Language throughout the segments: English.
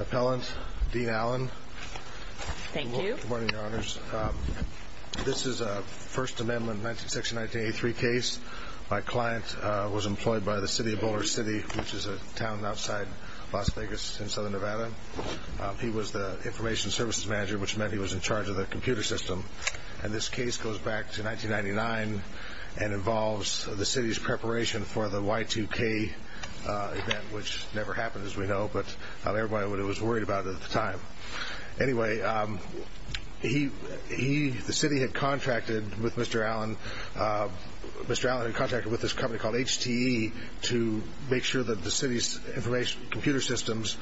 Appellant, Dean Allen. Thank you. Good morning, Your Honors. This is a First Amendment 1916-1983 case. My client was employed by the City of Boulder City, which is a town outside Las Vegas in Southern Nevada. He was the Information Services Manager, which meant he was in charge of the computer system. And this case goes back to 1999 and involves the city's preparation for the Y2K event, which never happened. As we know, but not everybody was worried about it at the time. Anyway, the city had contracted with Mr. Allen, Mr. Allen had contracted with this company called HTE to make sure that the city's computer systems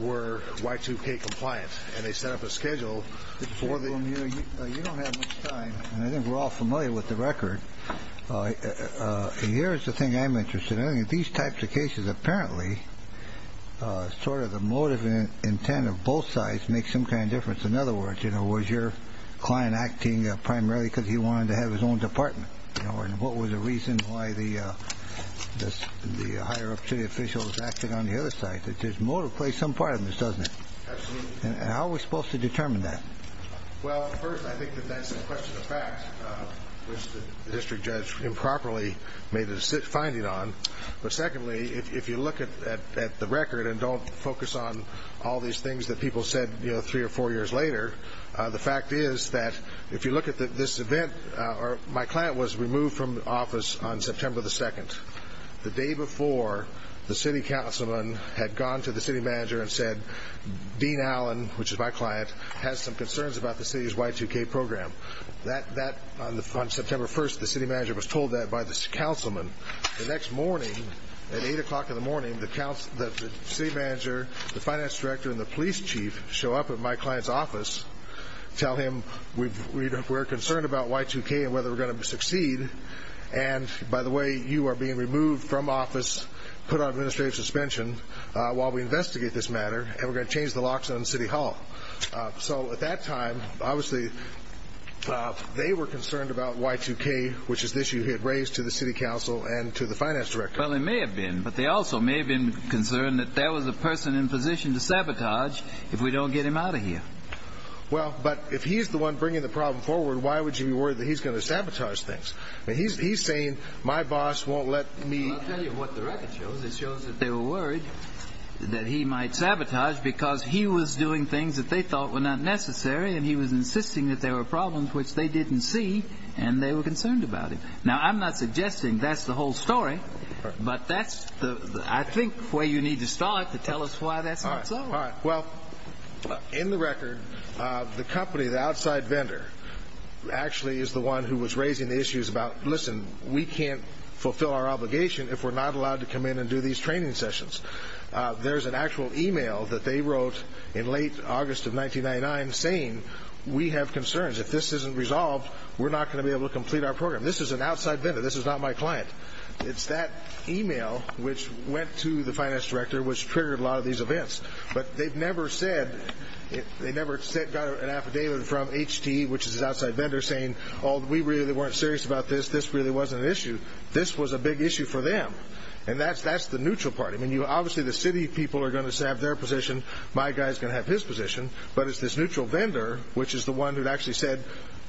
were Y2K compliant. And they set up a schedule for the... You don't have much time, and I think we're all familiar with the record. Here's the thing I'm interested in. These types of cases, apparently, sort of the motive and intent of both sides make some kind of difference. In other words, was your client acting primarily because he wanted to have his own department? What was the reason why the higher-up city official was acting on the other side? There's more to play some part in this, doesn't it? Absolutely. And how are we supposed to determine that? Well, first, I think that that's a question of fact, which the district judge improperly made a finding on. But secondly, if you look at the record and don't focus on all these things that people said three or four years later, the fact is that if you look at this event, my client was removed from office on September 2nd, the day before the city councilman had gone to the city manager and said, Dean Allen, which is my client, has some concerns about the city's Y2K program. On September 1st, the city manager was told that by the councilman. The next morning, at 8 o'clock in the morning, the city manager, the finance director, and the police chief show up at my client's office, tell him we're concerned about Y2K and whether we're going to succeed. And by the way, you are being removed from office, put on administrative suspension while we investigate this matter, and we're going to change the locks on City Hall. So at that time, obviously, they were concerned about Y2K, which is the issue he had raised to the city council and to the finance director. Well, they may have been, but they also may have been concerned that there was a person in position to sabotage if we don't get him out of here. Well, but if he's the one bringing the problem forward, why would you be worried that he's going to sabotage things? He's saying, my boss won't let me... Well, I'll tell you what the record shows. It shows that they were worried that he might sabotage because he was doing things that they thought were not necessary, and he was insisting that there were problems which they didn't see, and they were concerned about him. Now, I'm not suggesting that's the whole story, but that's, I think, where you need to start to tell us why that's not so. All right. Well, in the record, the company, the outside vendor, actually is the one who was raising the issues about, listen, we can't fulfill our obligation if we're not allowed to come in and do these training sessions. There's an actual email that they wrote in late August of 1999 saying, we have concerns. If this isn't resolved, we're not going to be able to complete our program. This is an outside vendor. This is not my client. It's that email which went to the finance director which triggered a lot of these events. But they've never said, they never got an affidavit from HT, which is this outside vendor, saying, oh, we really weren't serious about this. This really wasn't an issue. This was a big issue for them. And that's the neutral part. I mean, obviously, the city people are going to have their position. My guy's going to have his position. But it's this neutral vendor, which is the one who actually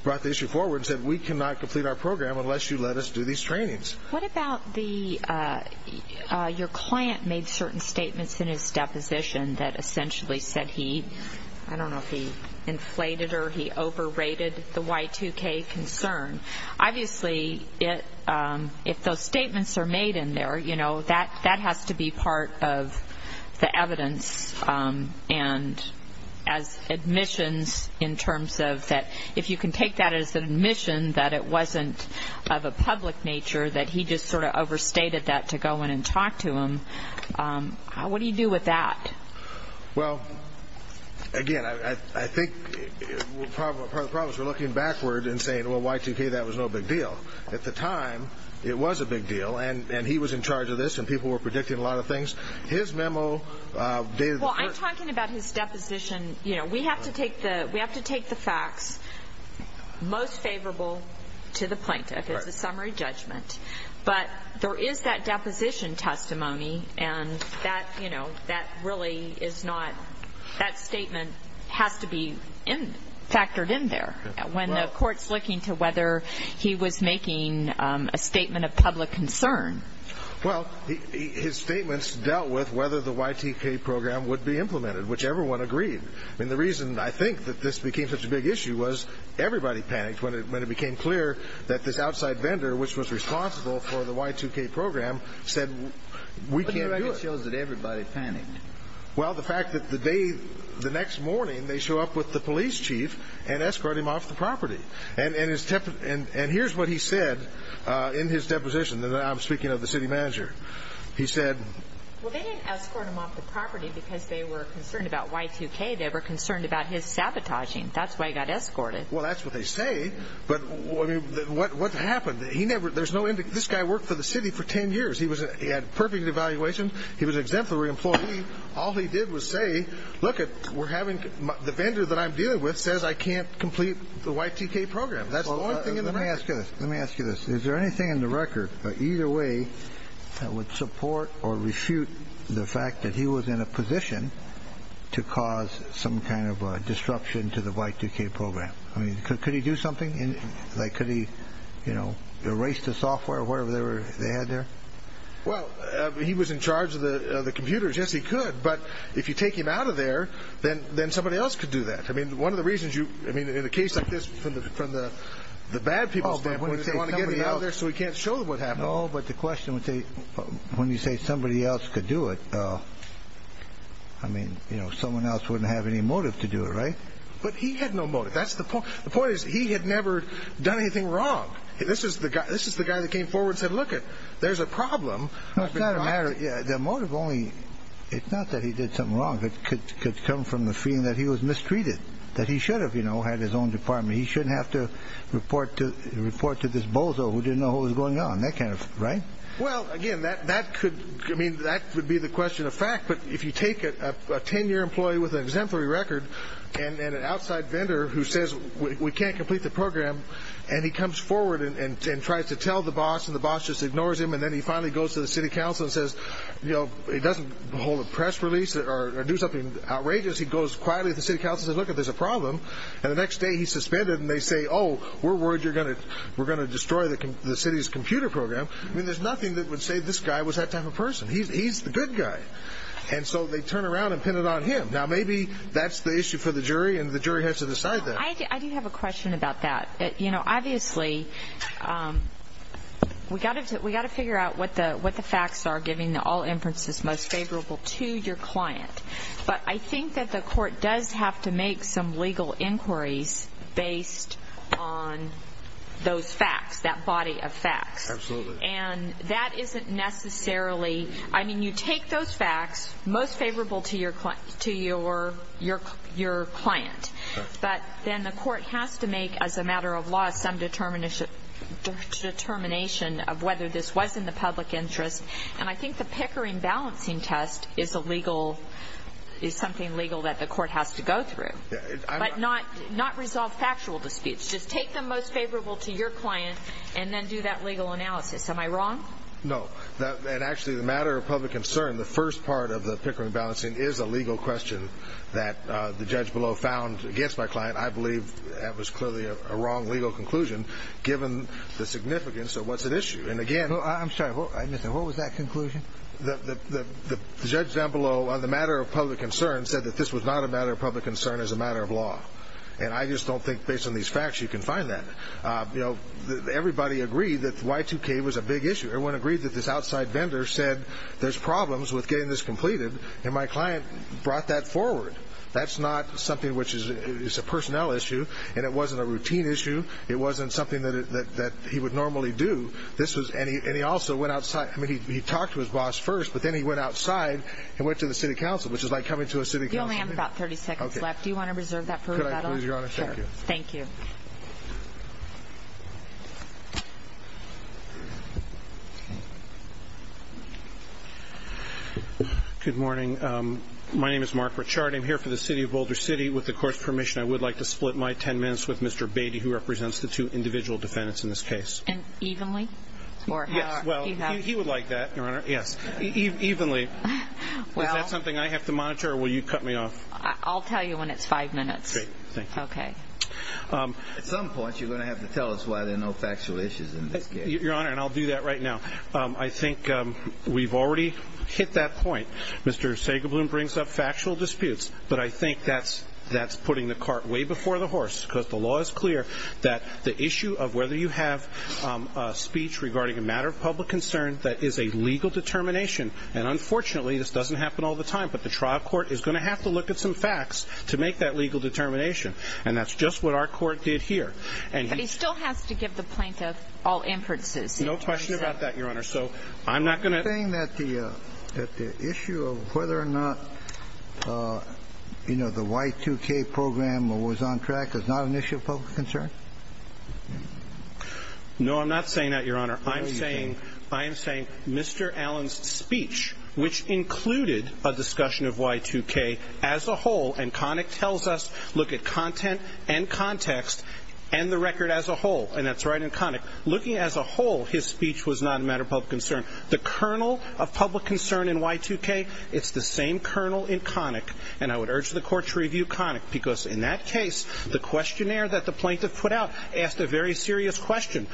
brought the issue forward and said, we cannot complete our program unless you let us do these trainings. What about the, your client made certain statements in his deposition that essentially said he, I don't know if he inflated or he overrated the Y2K concern. Obviously, if those statements are made in there, you know, that has to be part of the evidence and as admissions in terms of that, if you can take that as an admission that it wasn't of a public nature, that he was not aware of the Y2K concern. And he just sort of overstated that to go in and talk to him. What do you do with that? Well, again, I think part of the problem is we're looking backward and saying, well, Y2K, that was no big deal. At the time, it was a big deal. And he was in charge of this. And people were predicting a lot of things. His memo dated the first. When you're talking about his deposition, you know, we have to take the facts most favorable to the plaintiff. It's a summary judgment. But there is that deposition testimony. And that, you know, that really is not, that statement has to be factored in there when the court's looking to whether he was making a statement of public concern. Well, his statements dealt with whether the Y2K program would be implemented, which everyone agreed. And the reason I think that this became such a big issue was everybody panicked when it became clear that this outside vendor, which was responsible for the Y2K program, said, we can't do it. What do you reckon shows that everybody panicked? Well, the fact that the day, the next morning, they show up with the police chief and escort him off the property. And here's what he said in his deposition. I'm speaking of the city manager. He said. Well, they didn't escort him off the property because they were concerned about Y2K. They were concerned about his sabotaging. That's why he got escorted. Well, that's what they say. But what happened? He never there's no end. This guy worked for the city for 10 years. He was he had perfect evaluation. He was exemplary employee. All he did was say, look, we're having the vendor that I'm dealing with says I can't complete the Y2K program. Let me ask you this. Is there anything in the record either way that would support or refute the fact that he was in a position to cause some kind of disruption to the Y2K program? I mean, could he do something like could he, you know, erase the software or whatever they had there? Well, he was in charge of the computers. Yes, he could. But if you take him out of there, then then somebody else could do that. I mean, one of the reasons you I mean, in a case like this from the from the the bad people, they want to get out there so we can't show them what happened. Oh, but the question would be when you say somebody else could do it. I mean, you know, someone else wouldn't have any motive to do it. Right. But he had no motive. That's the point. The point is he had never done anything wrong. This is the guy. This is the guy that came forward, said, look, there's a problem. It's not a matter of the motive only. It's not that he did something wrong. It could come from the feeling that he was mistreated, that he should have, you know, had his own department. He shouldn't have to report to report to this bozo who didn't know what was going on. That kind of right. Well, again, that that could I mean, that would be the question of fact. But if you take a 10 year employee with an exemplary record and an outside vendor who says we can't complete the program and he comes forward and tries to tell the boss and the boss just ignores him and then he finally goes to the city council and says, you know, he doesn't hold a press release or do something outrageous. He goes quietly. The city council says, look, there's a problem. And the next day he's suspended and they say, oh, we're worried you're going to we're going to destroy the city's computer program. I mean, there's nothing that would say this guy was that type of person. He's the good guy. And so they turn around and pin it on him. Now, maybe that's the issue for the jury and the jury has to decide that. I do have a question about that. You know, obviously, we got it. We got to figure out what the what the facts are, giving the all inferences most favorable to your client. But I think that the court does have to make some legal inquiries based on those facts, that body of facts. Absolutely. And that isn't necessarily I mean, you take those facts most favorable to your client, to your your your client. But then the court has to make as a matter of law, some determination, determination of whether this was in the public interest. And I think the Pickering balancing test is a legal is something legal that the court has to go through, but not not resolve factual disputes. Just take the most favorable to your client and then do that legal analysis. Am I wrong? No. And actually, the matter of public concern, the first part of the Pickering balancing is a legal question that the judge below found against my client. I believe that was clearly a wrong legal conclusion, given the significance of what's at issue. And again, I'm sorry. What was that conclusion? The judge down below on the matter of public concern said that this was not a matter of public concern as a matter of law. And I just don't think based on these facts, you can find that, you know, everybody agreed that Y2K was a big issue. Everyone agreed that this outside vendor said there's problems with getting this completed. And my client brought that forward. That's not something which is a personnel issue. And it wasn't a routine issue. It wasn't something that he would normally do. And he also went outside. I mean, he talked to his boss first, but then he went outside and went to the city council, which is like coming to a city council meeting. You only have about 30 seconds left. Do you want to reserve that for rebuttal? Could I please, Your Honor? Thank you. Good morning. My name is Mark Richard. I'm here for the city of Boulder City. With the court's permission, I would like to split my 10 minutes with Mr. Beatty, who represents the two individual defendants in this case. And evenly? Well, he would like that, Your Honor. Yes. Evenly. Is that something I have to monitor or will you cut me off? I'll tell you when it's five minutes. Great. Thank you. Okay. At some point, you're going to have to tell us why there are no factual issues in this case. Your Honor, and I'll do that right now. I think we've already hit that point. Mr. Sagerbloom brings up factual disputes, but I think that's putting the cart way before the horse because the law is clear that the issue of whether you have a speech regarding a matter of public concern, that is a legal determination. And unfortunately, this doesn't happen all the time, but the trial court is going to have to look at some facts to make that legal determination. And that's just what our court did here. But he still has to give the plaintiff all inferences. No question about that, Your Honor. So I'm not going to... Are you saying that the issue of whether or not, you know, the Y2K program was on track is not an issue of public concern? No, I'm not saying that, Your Honor. I'm saying Mr. Allen's speech, which included a discussion of Y2K as a whole, and Connick tells us, look at content and context and the record as a whole. And that's right in Connick. Looking as a whole, his speech was not a matter of public concern. The kernel of public concern in Y2K, it's the same kernel in Connick. And I would urge the court to review Connick because in that case, the questionnaire that the plaintiff put out asked a very serious question.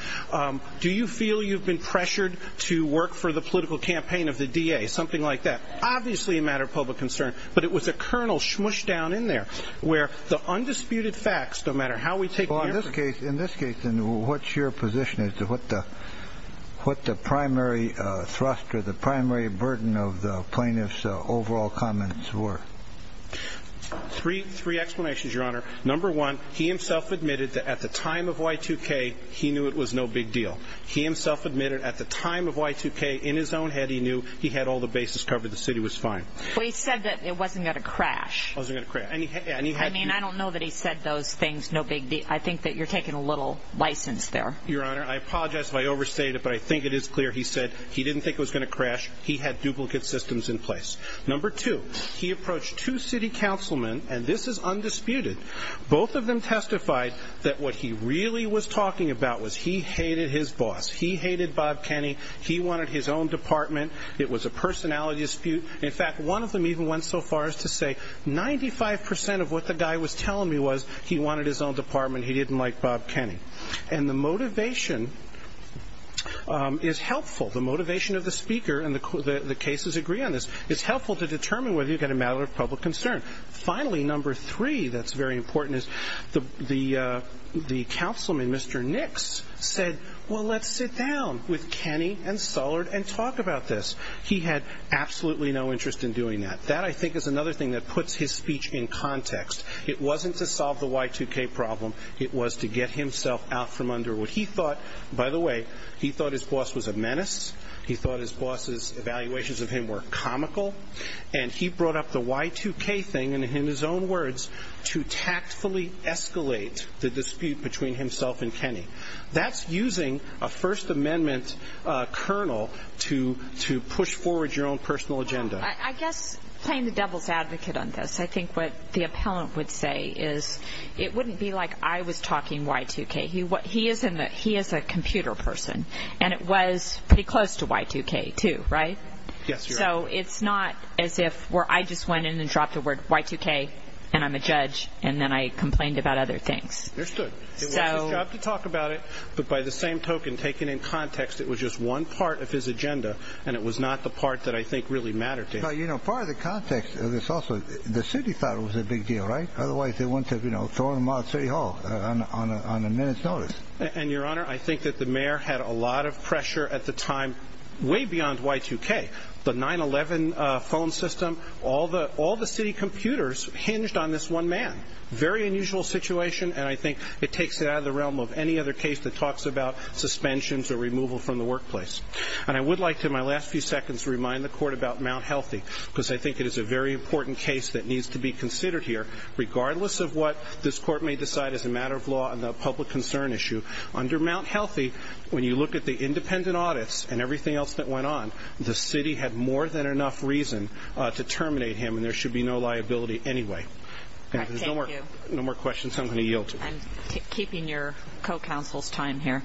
Do you feel you've been pressured to work for the political campaign of the DA? Something like that. Obviously a matter of public concern, but it was a kernel smooshed down in there where the undisputed facts, no matter how we take... In this case, then, what's your position as to what the primary thrust or the primary burden of the plaintiff's overall comments were? Three explanations, Your Honor. Number one, he himself admitted that at the time of Y2K, he knew it was no big deal. He himself admitted at the time of Y2K, in his own head, he knew he had all the bases covered, the city was fine. Well, he said that it wasn't going to crash. It wasn't going to crash. I mean, I don't know that he said those things, no big deal. I think that you're taking a little license there. Your Honor, I apologize if I overstated it, but I think it is clear he said he didn't think it was going to crash. He had duplicate systems in place. Number two, he approached two city councilmen, and this is undisputed. Both of them testified that what he really was talking about was he hated his boss. He hated Bob Kenney. He wanted his own department. It was a personality dispute. In fact, one of them even went so far as to say 95% of what the guy was telling me was he wanted his own department. He didn't like Bob Kenney. And the motivation is helpful, the motivation of the speaker, and the cases agree on this, is helpful to determine whether you've got a matter of public concern. Finally, number three that's very important is the councilman, Mr. Nix, said, well, let's sit down with Kenney and Sullard and talk about this. He had absolutely no interest in doing that. That, I think, is another thing that puts his speech in context. It wasn't to solve the Y2K problem. It was to get himself out from under what he thought, by the way, he thought his boss was a menace. He thought his boss's evaluations of him were comical. And he brought up the Y2K thing, and in his own words, to tactfully escalate the dispute between himself and Kenney. That's using a First Amendment kernel to push forward your own personal agenda. I guess playing the devil's advocate on this, I think what the appellant would say is it wouldn't be like I was talking Y2K. He is a computer person, and it was pretty close to Y2K, too, right? Yes, you're right. So it's not as if I just went in and dropped the word Y2K, and I'm a judge, and then I complained about other things. Understood. It was his job to talk about it, but by the same token, taken in context, it was just one part of his agenda, and it was not the part that I think really mattered to him. You know, part of the context of this also, the city thought it was a big deal, right? Otherwise, they wouldn't have, you know, thrown him out of City Hall on a minute's notice. And, Your Honor, I think that the mayor had a lot of pressure at the time, way beyond Y2K. The 9-11 phone system, all the city computers hinged on this one man. Very unusual situation, and I think it takes it out of the realm of any other case that talks about suspensions or removal from the workplace. And I would like to, in my last few seconds, remind the Court about Mount Healthy, because I think it is a very important case that needs to be considered here, regardless of what this Court may decide as a matter of law on the public concern issue. Under Mount Healthy, when you look at the independent audits and everything else that went on, the city had more than enough reason to terminate him, and there should be no liability anyway. All right, thank you. If there's no more questions, I'm going to yield to you. I'm keeping your co-counsel's time here.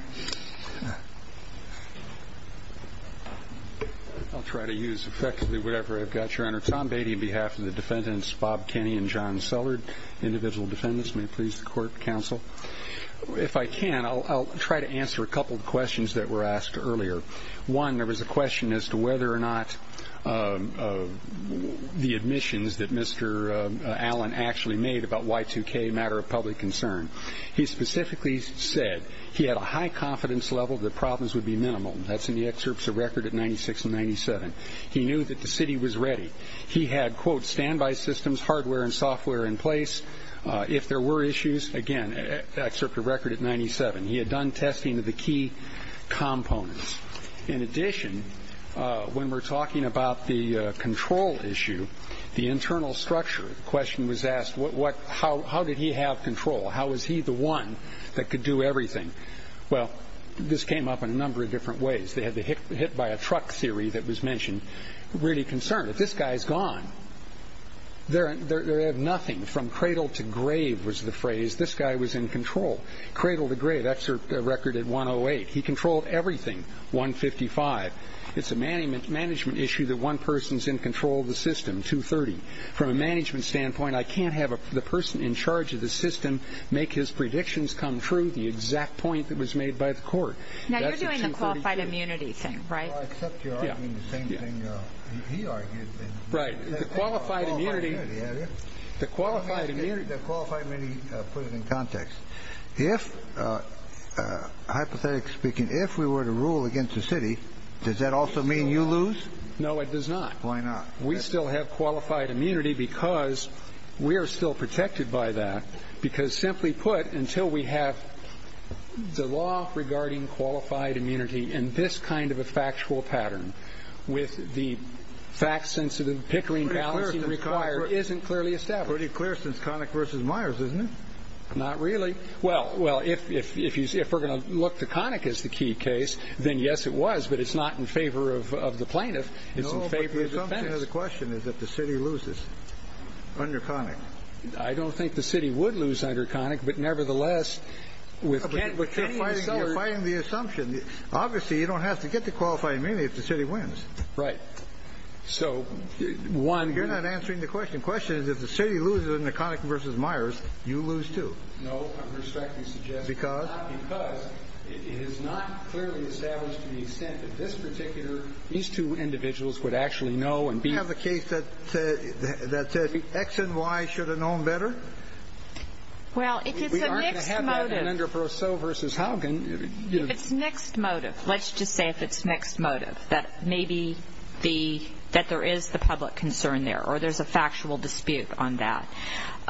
I'll try to use effectively whatever I've got, Your Honor. Tom Beatty on behalf of the defendants, Bob Kenny and John Sellard, individual defendants. May it please the Court, counsel. If I can, I'll try to answer a couple of questions that were asked earlier. One, there was a question as to whether or not the admissions that Mr. Allen actually made about Y2K, a matter of public concern. He specifically said he had a high confidence level that problems would be minimal. That's in the excerpts of record at 96 and 97. He knew that the city was ready. He had, quote, standby systems, hardware and software in place. If there were issues, again, excerpt of record at 97. He had done testing of the key components. In addition, when we're talking about the control issue, the internal structure, the question was asked, how did he have control? How was he the one that could do everything? Well, this came up in a number of different ways. They had the hit-by-a-truck theory that was mentioned, really concerned. If this guy's gone, they have nothing. From cradle to grave was the phrase. This guy was in control. Cradle to grave, excerpt of record at 108. He controlled everything, 155. It's a management issue that one person's in control of the system, 230. From a management standpoint, I can't have the person in charge of the system make his predictions come true, the exact point that was made by the court. Now you're doing the qualified immunity thing, right? Well, except you're arguing the same thing he argued. Right. The qualified immunity. The qualified immunity. Let me put it in context. If, hypothetically speaking, if we were to rule against the city, does that also mean you lose? No, it does not. Why not? We still have qualified immunity because we are still protected by that because, simply put, until we have the law regarding qualified immunity in this kind of a factual pattern with the fact-sensitive pickering balancing required isn't clearly established. Pretty clear since Connick v. Myers, isn't it? Not really. Well, if we're going to look to Connick as the key case, then yes, it was, but it's not in favor of the plaintiff. It's in favor of the defense. No, but the assumption of the question is that the city loses under Connick. I don't think the city would lose under Connick, but nevertheless, with Kennedy and Seller. But you're fighting the assumption. Obviously, you don't have to get the qualified immunity if the city wins. Right. So, one. You're not answering the question. The question is, if the city loses under Connick v. Myers, you lose, too. No, I'm respectfully suggesting. Because? Because it is not clearly established to the extent that this particular, these two individuals would actually know and be. Do you have a case that X and Y should have known better? Well, if it's a mixed motive. We aren't going to have that in Endre Perseau v. Haugen. If it's mixed motive, let's just say if it's mixed motive, that maybe there is the public concern there or there's a factual dispute on that.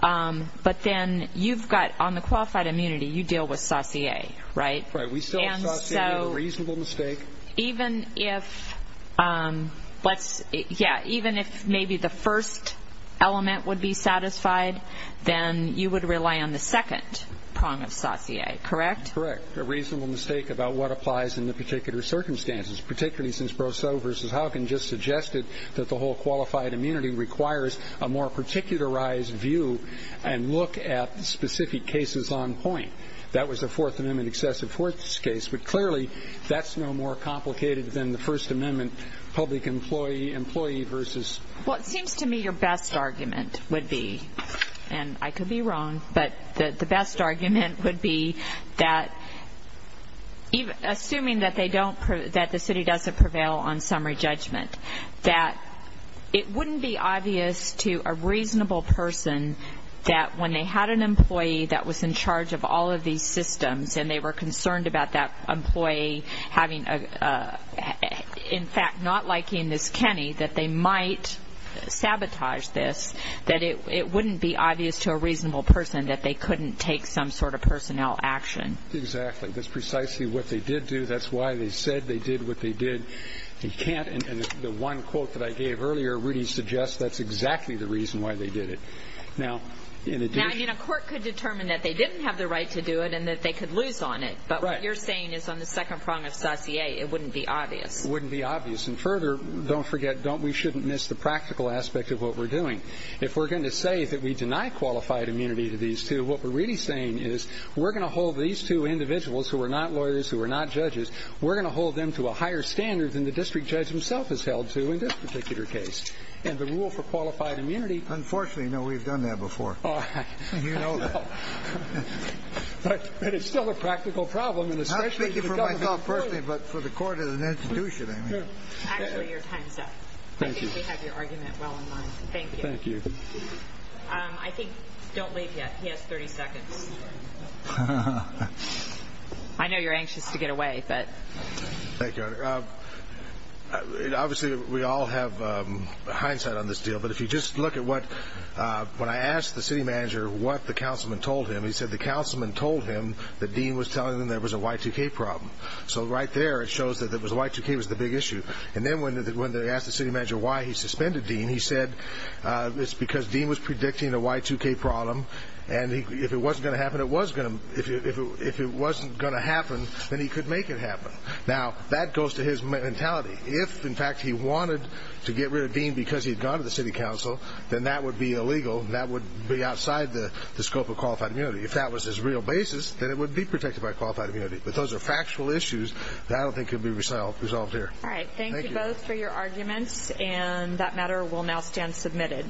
But then you've got, on the qualified immunity, you deal with saucier, right? Right. We still have saucier. A reasonable mistake. Even if, yeah, even if maybe the first element would be satisfied, then you would rely on the second prong of saucier, correct? Correct. A reasonable mistake about what applies in the particular circumstances, particularly since Perseau v. Haugen just suggested that the whole qualified immunity requires a more particularized view and look at specific cases on point. That was the Fourth Amendment excessive force case. But clearly that's no more complicated than the First Amendment public employee v. Well, it seems to me your best argument would be, and I could be wrong, but the best argument would be that assuming that they don't, that the city doesn't prevail on summary judgment, that it wouldn't be obvious to a reasonable person that when they had an employee that was in charge of all of these systems and they were concerned about that employee having, in fact, not liking this Kenny, that they might sabotage this, that it wouldn't be obvious to a reasonable person that they couldn't take some sort of personnel action. Exactly. That's precisely what they did do. That's why they said they did what they did. They can't, and the one quote that I gave earlier really suggests that's exactly the reason why they did it. Now, in addition. Now, I mean, a court could determine that they didn't have the right to do it and that they could lose on it. Right. But what you're saying is on the second prong of saucier it wouldn't be obvious. It wouldn't be obvious. And further, don't forget, don't we shouldn't miss the practical aspect of what we're doing. If we're going to say that we deny qualified immunity to these two, what we're really saying is we're going to hold these two individuals who are not lawyers, who are not judges, we're going to hold them to a higher standard than the district judge himself has held to in this particular case. And the rule for qualified immunity. Unfortunately, no, we've done that before. You know that. But it's still a practical problem. Personally, but for the court as an institution, I mean. Actually, your time's up. Thank you. I think we have your argument well in line. Thank you. Thank you. I think. Don't leave yet. He has 30 seconds. I know you're anxious to get away, but. Thank you. Obviously, we all have hindsight on this deal. But if you just look at what when I asked the city manager what the councilman told him, he said the councilman told him that Dean was telling him there was a Y2K problem. So right there it shows that the Y2K was the big issue. And then when they asked the city manager why he suspended Dean, he said it's because Dean was predicting a Y2K problem, and if it wasn't going to happen, then he could make it happen. Now, that goes to his mentality. If, in fact, he wanted to get rid of Dean because he had gone to the city council, then that would be illegal and that would be outside the scope of qualified immunity. If that was his real basis, then it would be protected by qualified immunity. But those are factual issues that I don't think can be resolved here. All right. Thank you both for your arguments, and that matter will now stand submitted.